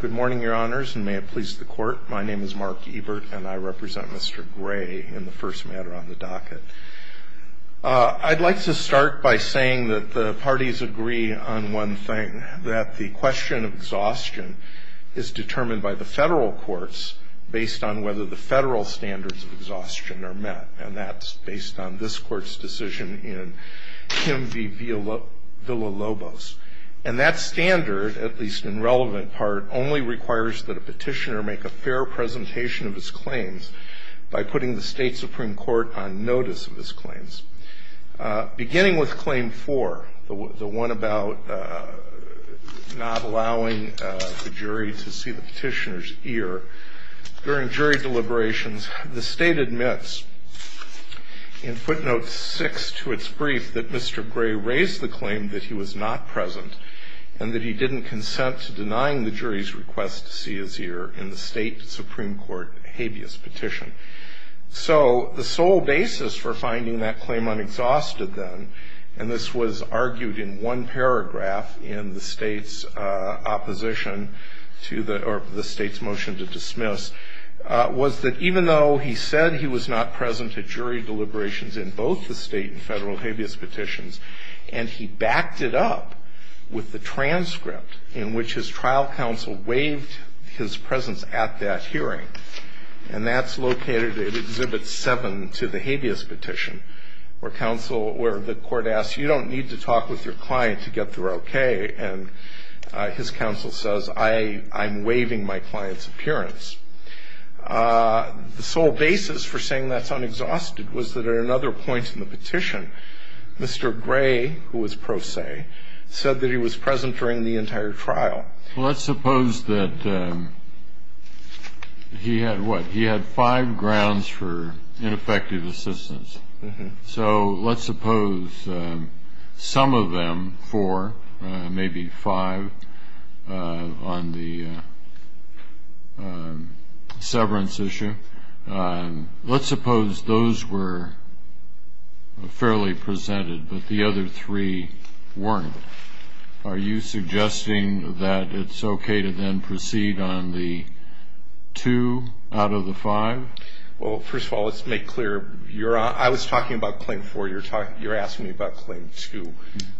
Good morning, your honors, and may it please the court. My name is Mark Ebert, and I represent Mr. Gray in the first matter on the docket. I'd like to start by saying that the parties agree on one thing, that the question of exhaustion is determined by the federal courts based on whether the federal standards of exhaustion are met, and that's based on this court's decision in Kim v. Villalobos. And that standard, at least in relevant part, only requires that a petitioner make a fair presentation of his claims by putting the state Supreme Court on notice of his claims. Beginning with Claim 4, the one about not allowing the jury to see the petitioner's ear, during jury deliberations, the state admits in footnote 6 to its brief that Mr. Gray raised the claim that he was not present and that he didn't consent to denying the jury's request to see his ear in the state Supreme Court habeas petition. So the sole basis for finding that claim unexhausted then, and this was argued in one paragraph in the state's opposition to the, or the state's motion to dismiss, was that even though he said he was not present at jury deliberations in both the state and federal habeas petitions, and he backed it up with the transcript in which his trial counsel waived his presence at that hearing, and that's located at Exhibit 7 to the habeas petition, where counsel, where the court asks, you don't need to talk with your client to get through okay, and his counsel says, I'm waiving my client's appearance. The sole basis for saying that's unexhausted was that at another point in the petition, Mr. Gray, who was pro se, said that he was present during the entire trial. Well, let's suppose that he had what? He had five grounds for ineffective assistance. So let's suppose some of them, four, maybe five, on the severance issue, let's suppose those were fairly presented, but the other three weren't. Are you suggesting that it's okay to then proceed on the two out of the five? Well, first of all, let's make clear. I was talking about Claim 4. You're asking me about Claim 2,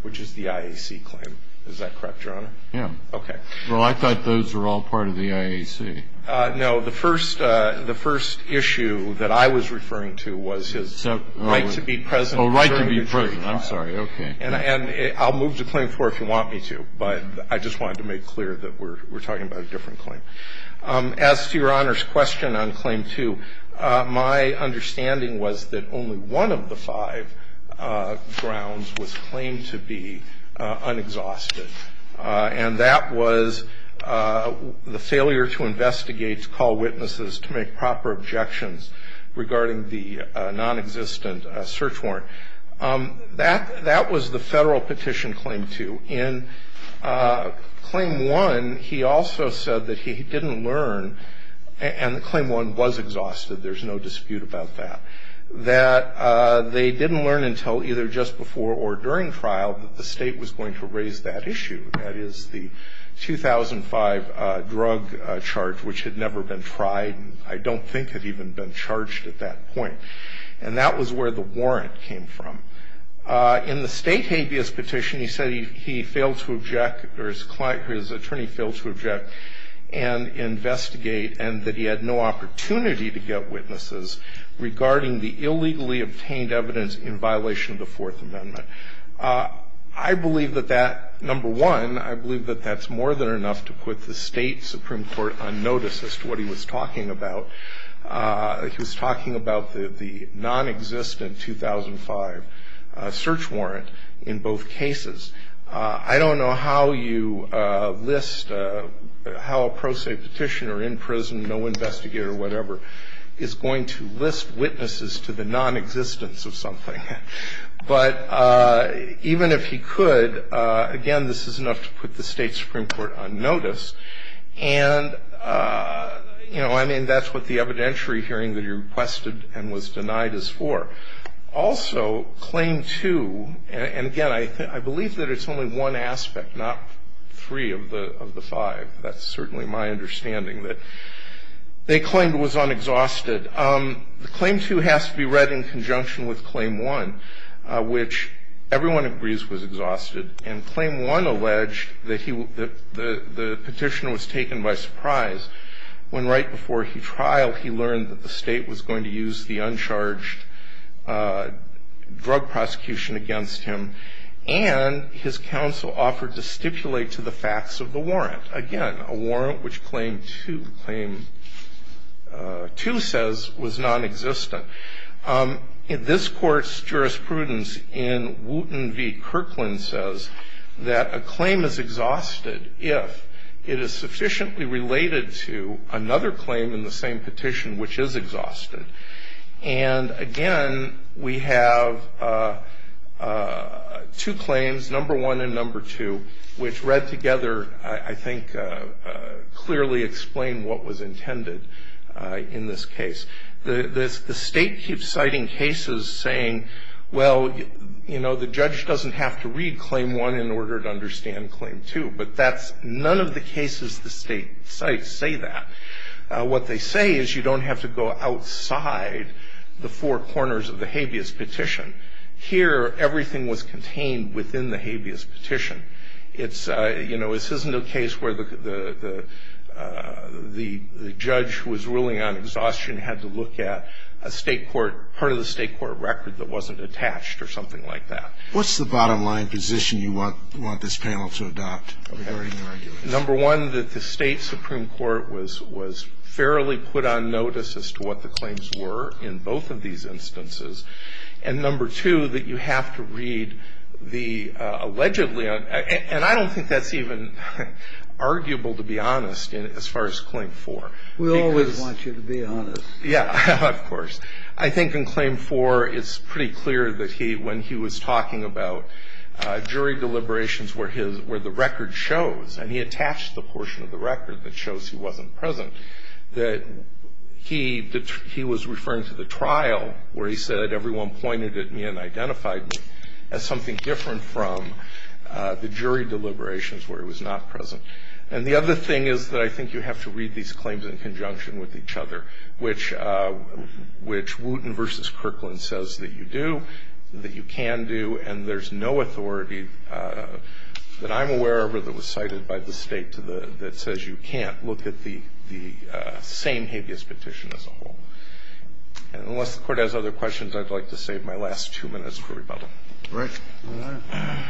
which is the IAC claim. Is that correct, Your Honor? Yeah. Okay. Well, I thought those were all part of the IAC. No. The first issue that I was referring to was his right to be present. Oh, right to be present. I'm sorry. Okay. And I'll move to Claim 4 if you want me to, but I just wanted to make clear that we're talking about a different claim. As to Your Honor's question on Claim 2, my understanding was that only one of the five grounds was claimed to be unexhausted, and that was the failure to investigate, to call witnesses, to make proper objections regarding the nonexistent search warrant. That was the federal petition Claim 2. In Claim 1, he also said that he didn't learn, and Claim 1 was exhausted, there's no dispute about that, that they didn't learn until either just before or during trial that the state was going to raise that issue. That is, the 2005 drug charge, which had never been tried, and I don't think had even been charged at that point. And that was where the warrant came from. In the state habeas petition, he said he failed to object, or his attorney failed to object, and investigate, and that he had no opportunity to get witnesses regarding the illegally obtained evidence in violation of the Fourth Amendment. I believe that that, number one, I believe that that's more than enough to put the state Supreme Court on notice as to what he was talking about. He was talking about the nonexistent 2005 search warrant in both cases. I don't know how you list, how a pro se petitioner in prison, no investigator, whatever, is going to list witnesses to the nonexistence of something. But even if he could, again, this is enough to put the state Supreme Court on notice. And, you know, I mean, that's what the evidentiary hearing that he requested and was denied is for. Also, Claim 2, and again, I believe that it's only one aspect, not three of the five. That's certainly my understanding that they claimed it was unexhausted. Claim 2 has to be read in conjunction with Claim 1, which everyone agrees was exhausted. And Claim 1 alleged that the petition was taken by surprise when right before he trialed, he learned that the state was going to use the uncharged drug prosecution against him. And his counsel offered to stipulate to the facts of the warrant. Again, a warrant which Claim 2 says was nonexistent. This Court's jurisprudence in Wooten v. Kirkland says that a claim is exhausted if it is sufficiently related to another claim in the same petition which is exhausted. And, again, we have two claims, Number 1 and Number 2, which read together, I think, clearly explain what was intended in this case. The state keeps citing cases saying, well, you know, the judge doesn't have to read Claim 1 in order to understand Claim 2. But none of the cases the state cites say that. What they say is you don't have to go outside the four corners of the habeas petition. Here, everything was contained within the habeas petition. You know, this isn't a case where the judge who was ruling on exhaustion had to look at a state court, part of the state court record that wasn't attached or something like that. What's the bottom line position you want this panel to adopt regarding your argument? Number 1, that the state supreme court was fairly put on notice as to what the claims were in both of these instances. And, Number 2, that you have to read the allegedly, and I don't think that's even arguable, to be honest, as far as Claim 4. We always want you to be honest. Yeah, of course. I think in Claim 4, it's pretty clear that when he was talking about jury deliberations where the record shows, and he attached the portion of the record that shows he wasn't present, that he was referring to the trial where he said, everyone pointed at me and identified me as something different from the jury deliberations where he was not present. And the other thing is that I think you have to read these claims in conjunction with each other, which Wooten v. Kirkland says that you do, that you can do, and there's no authority that I'm aware of that was cited by the state that says you can't. So I think it's important to look at the same habeas petition as a whole. And unless the Court has other questions, I'd like to save my last two minutes for rebuttal. Right. All right.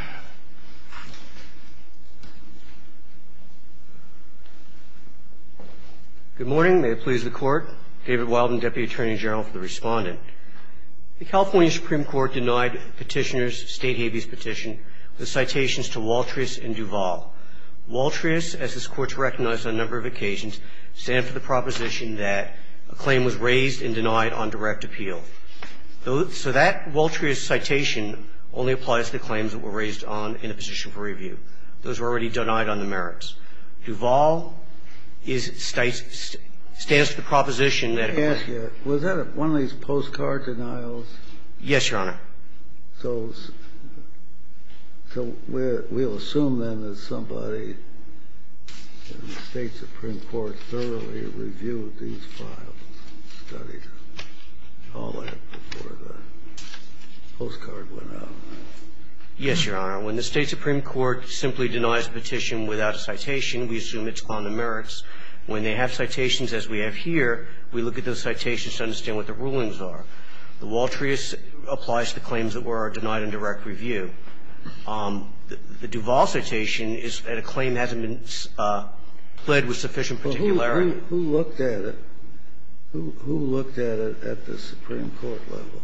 Good morning. May it please the Court. David Wilden, Deputy Attorney General, for the Respondent. The California Supreme Court denied Petitioner's state habeas petition the citations to Waltrius and Duval. Waltrius, as this Court has recognized on a number of occasions, stands for the proposition that a claim was raised and denied on direct appeal. So that Waltrius citation only applies to the claims that were raised on in a position for review. Those were already denied on the merits. Duval is states the proposition that it was. So is that one of these postcard denials? Yes, Your Honor. So we'll assume, then, that somebody in the State Supreme Court thoroughly reviewed these files and studied all that before the postcard went out, right? Yes, Your Honor. When the State Supreme Court simply denies a petition without a citation, we assume it's on the merits. When they have citations as we have here, we look at those citations to understand what the rulings are. The Waltrius applies to the claims that were denied on direct review. The Duval citation is that a claim hasn't been pled with sufficient particularity. Well, who looked at it? Who looked at it at the Supreme Court level?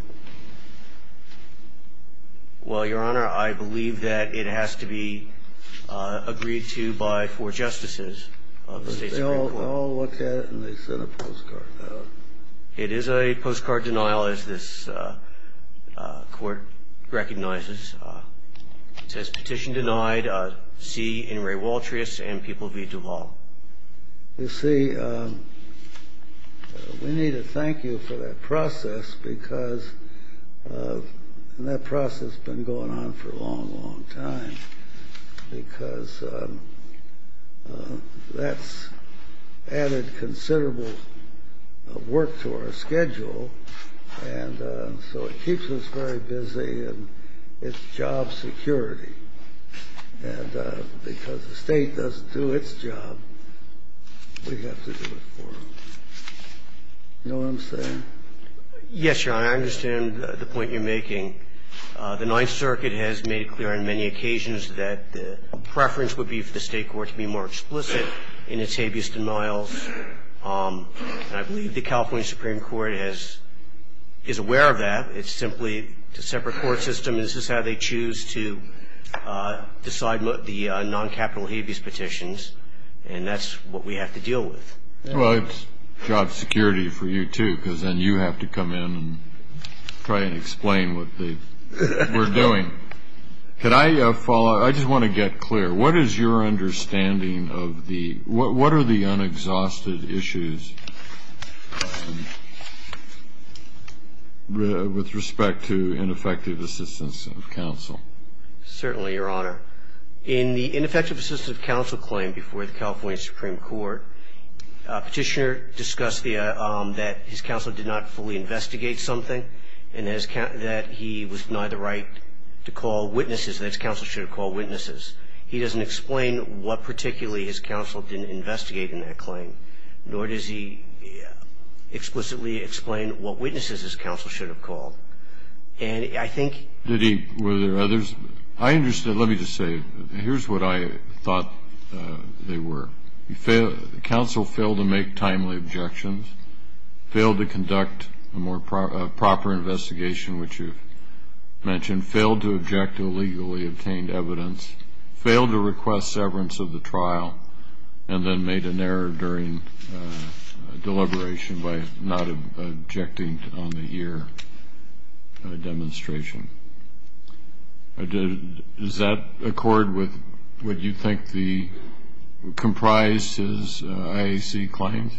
Well, Your Honor, I believe that it has to be agreed to by four justices of the State Supreme Court. They all looked at it and they sent a postcard out. It is a postcard denial, as this Court recognizes. It says, Petition denied. See Inouye Waltrius and people via Duval. You see, we need to thank you for that process because that process has been going on for a long, long time because that's added considerable work to our schedule, and so it keeps us very busy and it's job security. And because the State doesn't do its job, we have to do it for them. You know what I'm saying? Yes, Your Honor. I understand the point you're making. The Ninth Circuit has made it clear on many occasions that the preference would be for the State Court to be more explicit in its habeas denials. And I believe the California Supreme Court is aware of that. It's simply a separate court system. This is how they choose to decide the non-capital habeas petitions, and that's what we have to deal with. Well, it's job security for you, too, because then you have to come in and try and explain what we're doing. Can I follow? I just want to get clear. What is your understanding of the unexhausted issues with respect to ineffective assistance of counsel? Certainly, Your Honor. In the ineffective assistance of counsel claim before the California Supreme Court, Petitioner discussed that his counsel did not fully investigate something and that he was denied the right to call witnesses, that his counsel should have called witnesses. He doesn't explain what particularly his counsel didn't investigate in that claim, nor does he explicitly explain what witnesses his counsel should have called. Did he? Were there others? I understand. Let me just say, here's what I thought they were. Counsel failed to make timely objections, failed to conduct a proper investigation, which you've mentioned, failed to object to illegally obtained evidence, failed to request severance of the trial, and then made an error during deliberation by not objecting on the here demonstration. Does that accord with what you think comprises IAC claims?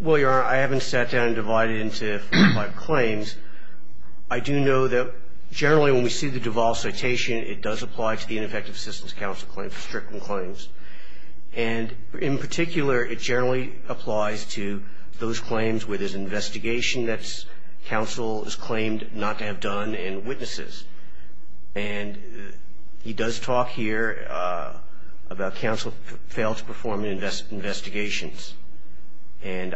Well, Your Honor, I haven't sat down and divided it into five claims. I do know that generally when we see the Duval citation, it does apply to the ineffective assistance counsel claim for stricter claims. And in particular, it generally applies to those claims where there's investigation that's counsel has claimed not to have done and witnesses. And he does talk here about counsel failed to perform investigations. And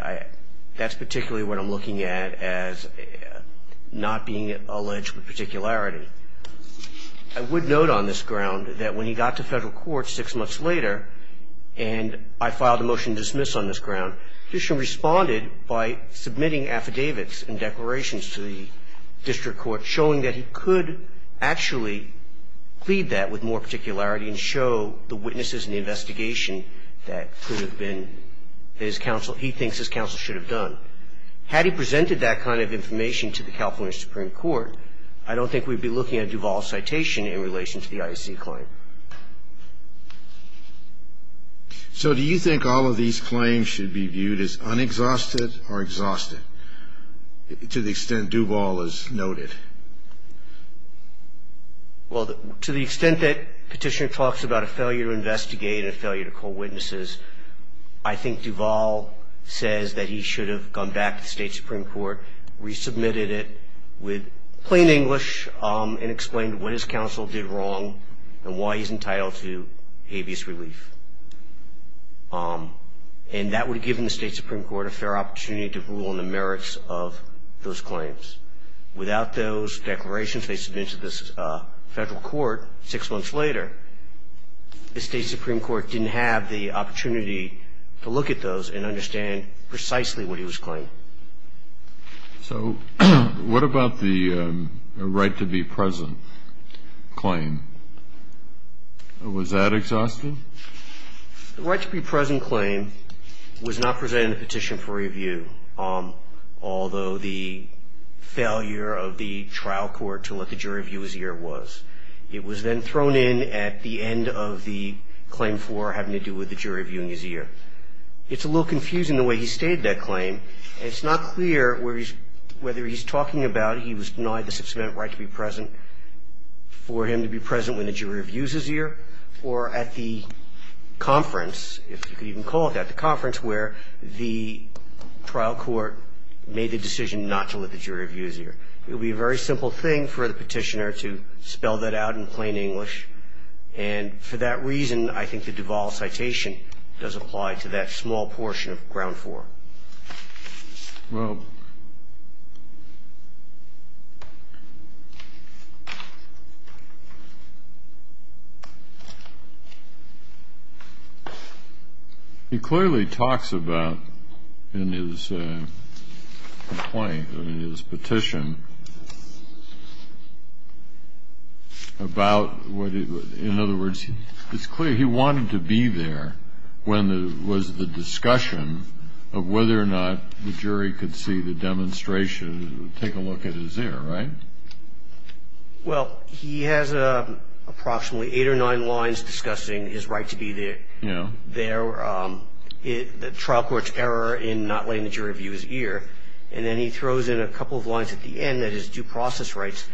that's particularly what I'm looking at as not being alleged with particularity. I would note on this ground that when he got to federal court six months later and I filed a motion to dismiss on this ground, the petitioner responded by submitting affidavits and declarations to the district court, showing that he could actually plead that with more particularity and show the witnesses and the investigation that could have been his counsel, he thinks his counsel should have done. Had he presented that kind of information to the California Supreme Court, I don't think we'd be looking at Duval's citation in relation to the IAC claim. So do you think all of these claims should be viewed as unexhausted or exhausted to the extent Duval has noted? Well, to the extent that petitioner talks about a failure to investigate, a failure to call witnesses, I think Duval says that he should have gone back to the State Supreme Court, resubmitted it with plain English and explained what his counsel did wrong and why he's entitled to habeas relief. And that would have given the State Supreme Court a fair opportunity to rule on the merits of those claims. Without those declarations they submitted to the federal court six months later, the State Supreme Court didn't have the opportunity to look at those and understand precisely what he was claiming. So what about the right to be present claim? Was that exhausted? The right to be present claim was not presented in the petition for review, although the failure of the trial court to let the jury view his ear was. It was then thrown in at the end of the claim for having to do with the jury viewing his ear. It's a little confusing the way he stated that claim. It's not clear whether he's talking about he was denied the six-minute right to be present for him to be present when the jury reviews his ear or at the conference, if you could even call it that, the conference where the trial court made the decision not to let the jury view his ear. It would be a very simple thing for the petitioner to spell that out in plain English. And for that reason, I think the Duvall citation does apply to that small portion of ground four. Well, he clearly talks about in his complaint, in his petition, about, in other words, it's clear he wanted to be there when there was the discussion of whether or not the jury could see the demonstration, take a look at his ear, right? Well, he has approximately eight or nine lines discussing his right to be there. Yeah. The trial court's error in not letting the jury view his ear. And then he throws in a couple of lines at the end that his due process rights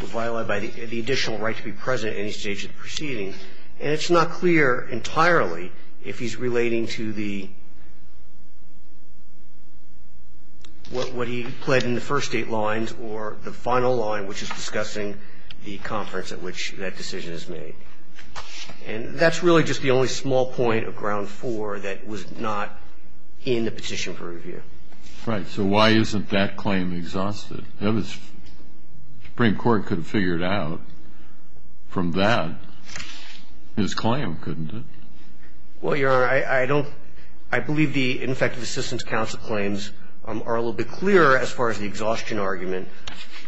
were violated by the additional right to be present at any stage of the proceeding. And it's not clear entirely if he's relating to the, what he pled in the first eight lines or the final line, which is discussing the conference at which that decision is made. And that's really just the only small point of ground four that was not in the petition for review. Right. So why isn't that claim exhausted? The Supreme Court could have figured out from that his claim, couldn't it? Well, Your Honor, I don't, I believe the Infective Assistance Council claims are a little bit clearer as far as the exhaustion argument.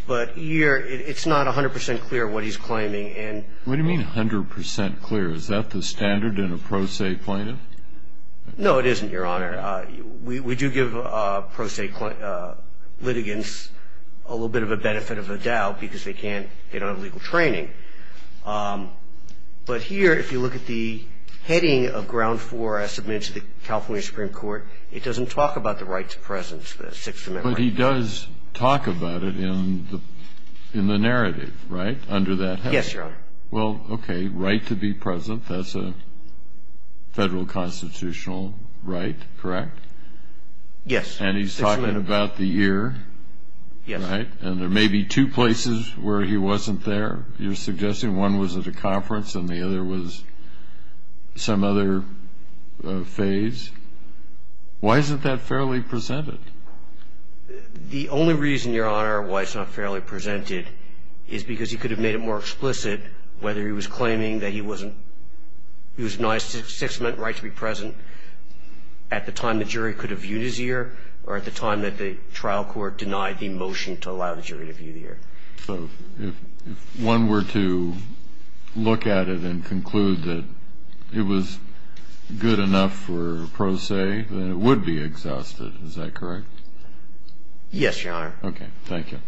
But it's not 100 percent clear what he's claiming. What do you mean 100 percent clear? Is that the standard in a pro se plaintiff? No, it isn't, Your Honor. We do give pro se litigants a little bit of a benefit of the doubt because they can't, they don't have legal training. But here, if you look at the heading of ground four as submitted to the California Supreme Court, it doesn't talk about the right to presence, the Sixth Amendment right. But he does talk about it in the narrative, right, under that heading? Yes, Your Honor. Well, okay, right to be present, that's a federal constitutional right, correct? Yes. And he's talking about the year, right? And there may be two places where he wasn't there. You're suggesting one was at a conference and the other was some other phase. Why isn't that fairly presented? The only reason, Your Honor, why it's not fairly presented is because he could have made it more explicit whether he was claiming that he was denied a Sixth Amendment right to be present at the time the jury could have viewed his year or at the time that the trial court denied the motion to allow the jury to view the year. So if one were to look at it and conclude that it was good enough for pro se, then it would be exhausted, is that correct? Yes, Your Honor. Okay. Thank you.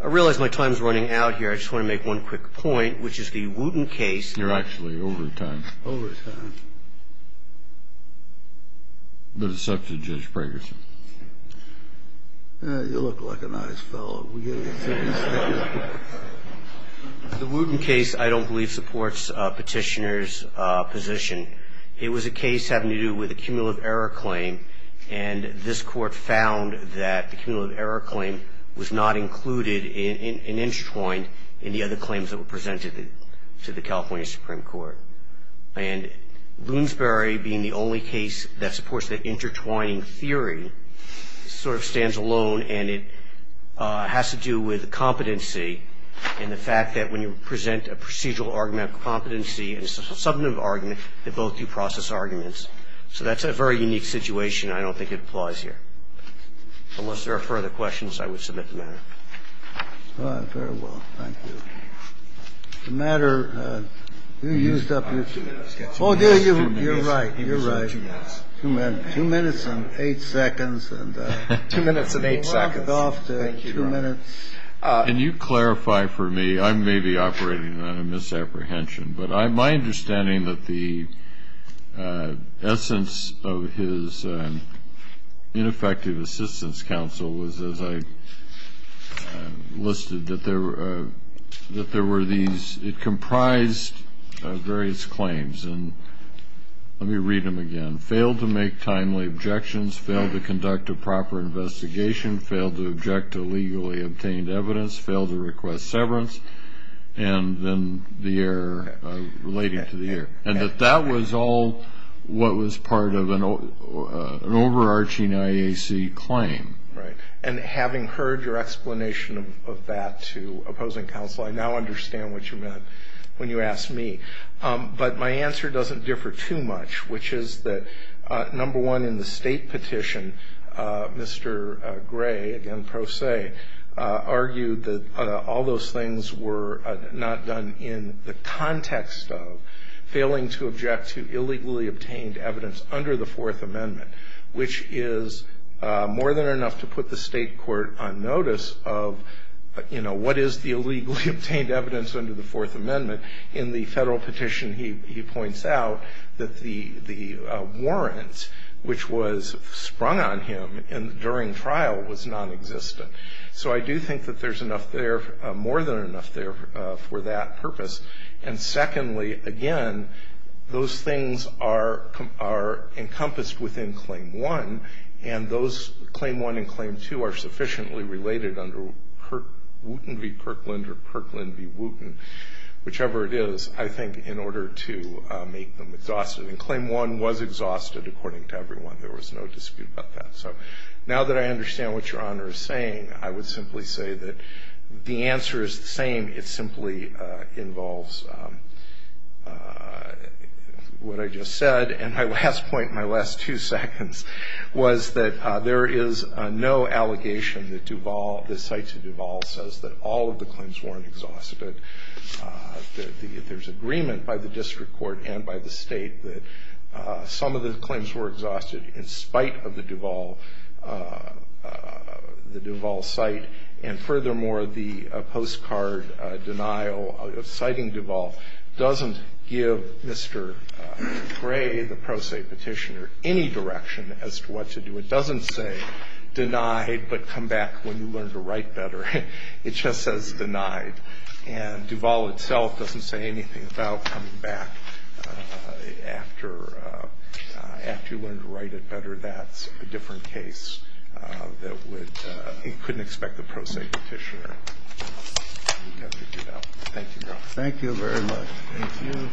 I realize my time is running out here. I just want to make one quick point, which is the Wooten case. You're actually over time. Over time. But it's up to Judge Fragerson. You look like a nice fellow. The Wooten case, I don't believe, supports Petitioner's position. It was a case having to do with a cumulative error claim, and this Court found that the cumulative error claim was not included and intertwined in the other claims that were presented to the California Supreme Court. And Lunesbury being the only case that supports that intertwining theory sort of stands alone, and it has to do with competency and the fact that when you present a procedural argument of competency and a substantive argument, that both you process arguments. So that's a very unique situation. I don't think it applies here. Unless there are further questions, I would submit the matter. All right. Very well. Thank you. The matter, you used up your two minutes. Oh, you're right. You're right. Two minutes and eight seconds. Two minutes and eight seconds. Can you clarify for me? I may be operating on a misapprehension, but my understanding that the essence of his ineffective assistance counsel was, as I listed, that there were these ñ it comprised various claims. And let me read them again. Failed to make timely objections. Failed to conduct a proper investigation. Failed to object to legally obtained evidence. Failed to request severance. And then the error related to the error. And that that was all what was part of an overarching IAC claim. Right. And having heard your explanation of that to opposing counsel, I now understand what you meant when you asked me. But my answer doesn't differ too much, which is that, number one, in the state petition, Mr. Gray, again, pro se, argued that all those things were not done in the context of failing to object to illegally obtained evidence under the Fourth Amendment, which is more than enough to put the state court on notice of, you know, what is the illegally obtained evidence under the Fourth Amendment. In the federal petition, he points out that the warrant which was sprung on him during trial was nonexistent. So I do think that there's enough there, more than enough there, for that purpose. And secondly, again, those things are encompassed within Claim 1, and those Claim 1 and Claim 2 are sufficiently related under Wooten v. Kirkland or Kirkland v. Wooten, whichever it is, I think, in order to make them exhausted. And Claim 1 was exhausted, according to everyone. There was no dispute about that. So now that I understand what Your Honor is saying, I would simply say that the answer is the same. It simply involves what I just said. And my last point in my last two seconds was that there is no allegation that Duval, the sites of Duval says that all of the claims weren't exhausted. There's agreement by the district court and by the state that some of the claims were exhausted in spite of the Duval site. And furthermore, the postcard denial citing Duval doesn't give Mr. Gray, the pro se petitioner, any direction as to what to do. It doesn't say denied, but come back when you learn to write better. It just says denied. And Duval itself doesn't say anything about coming back after you learn to write it better. That's a different case that couldn't expect the pro se petitioner. Thank you, Your Honor. Thank you very much. Thank you.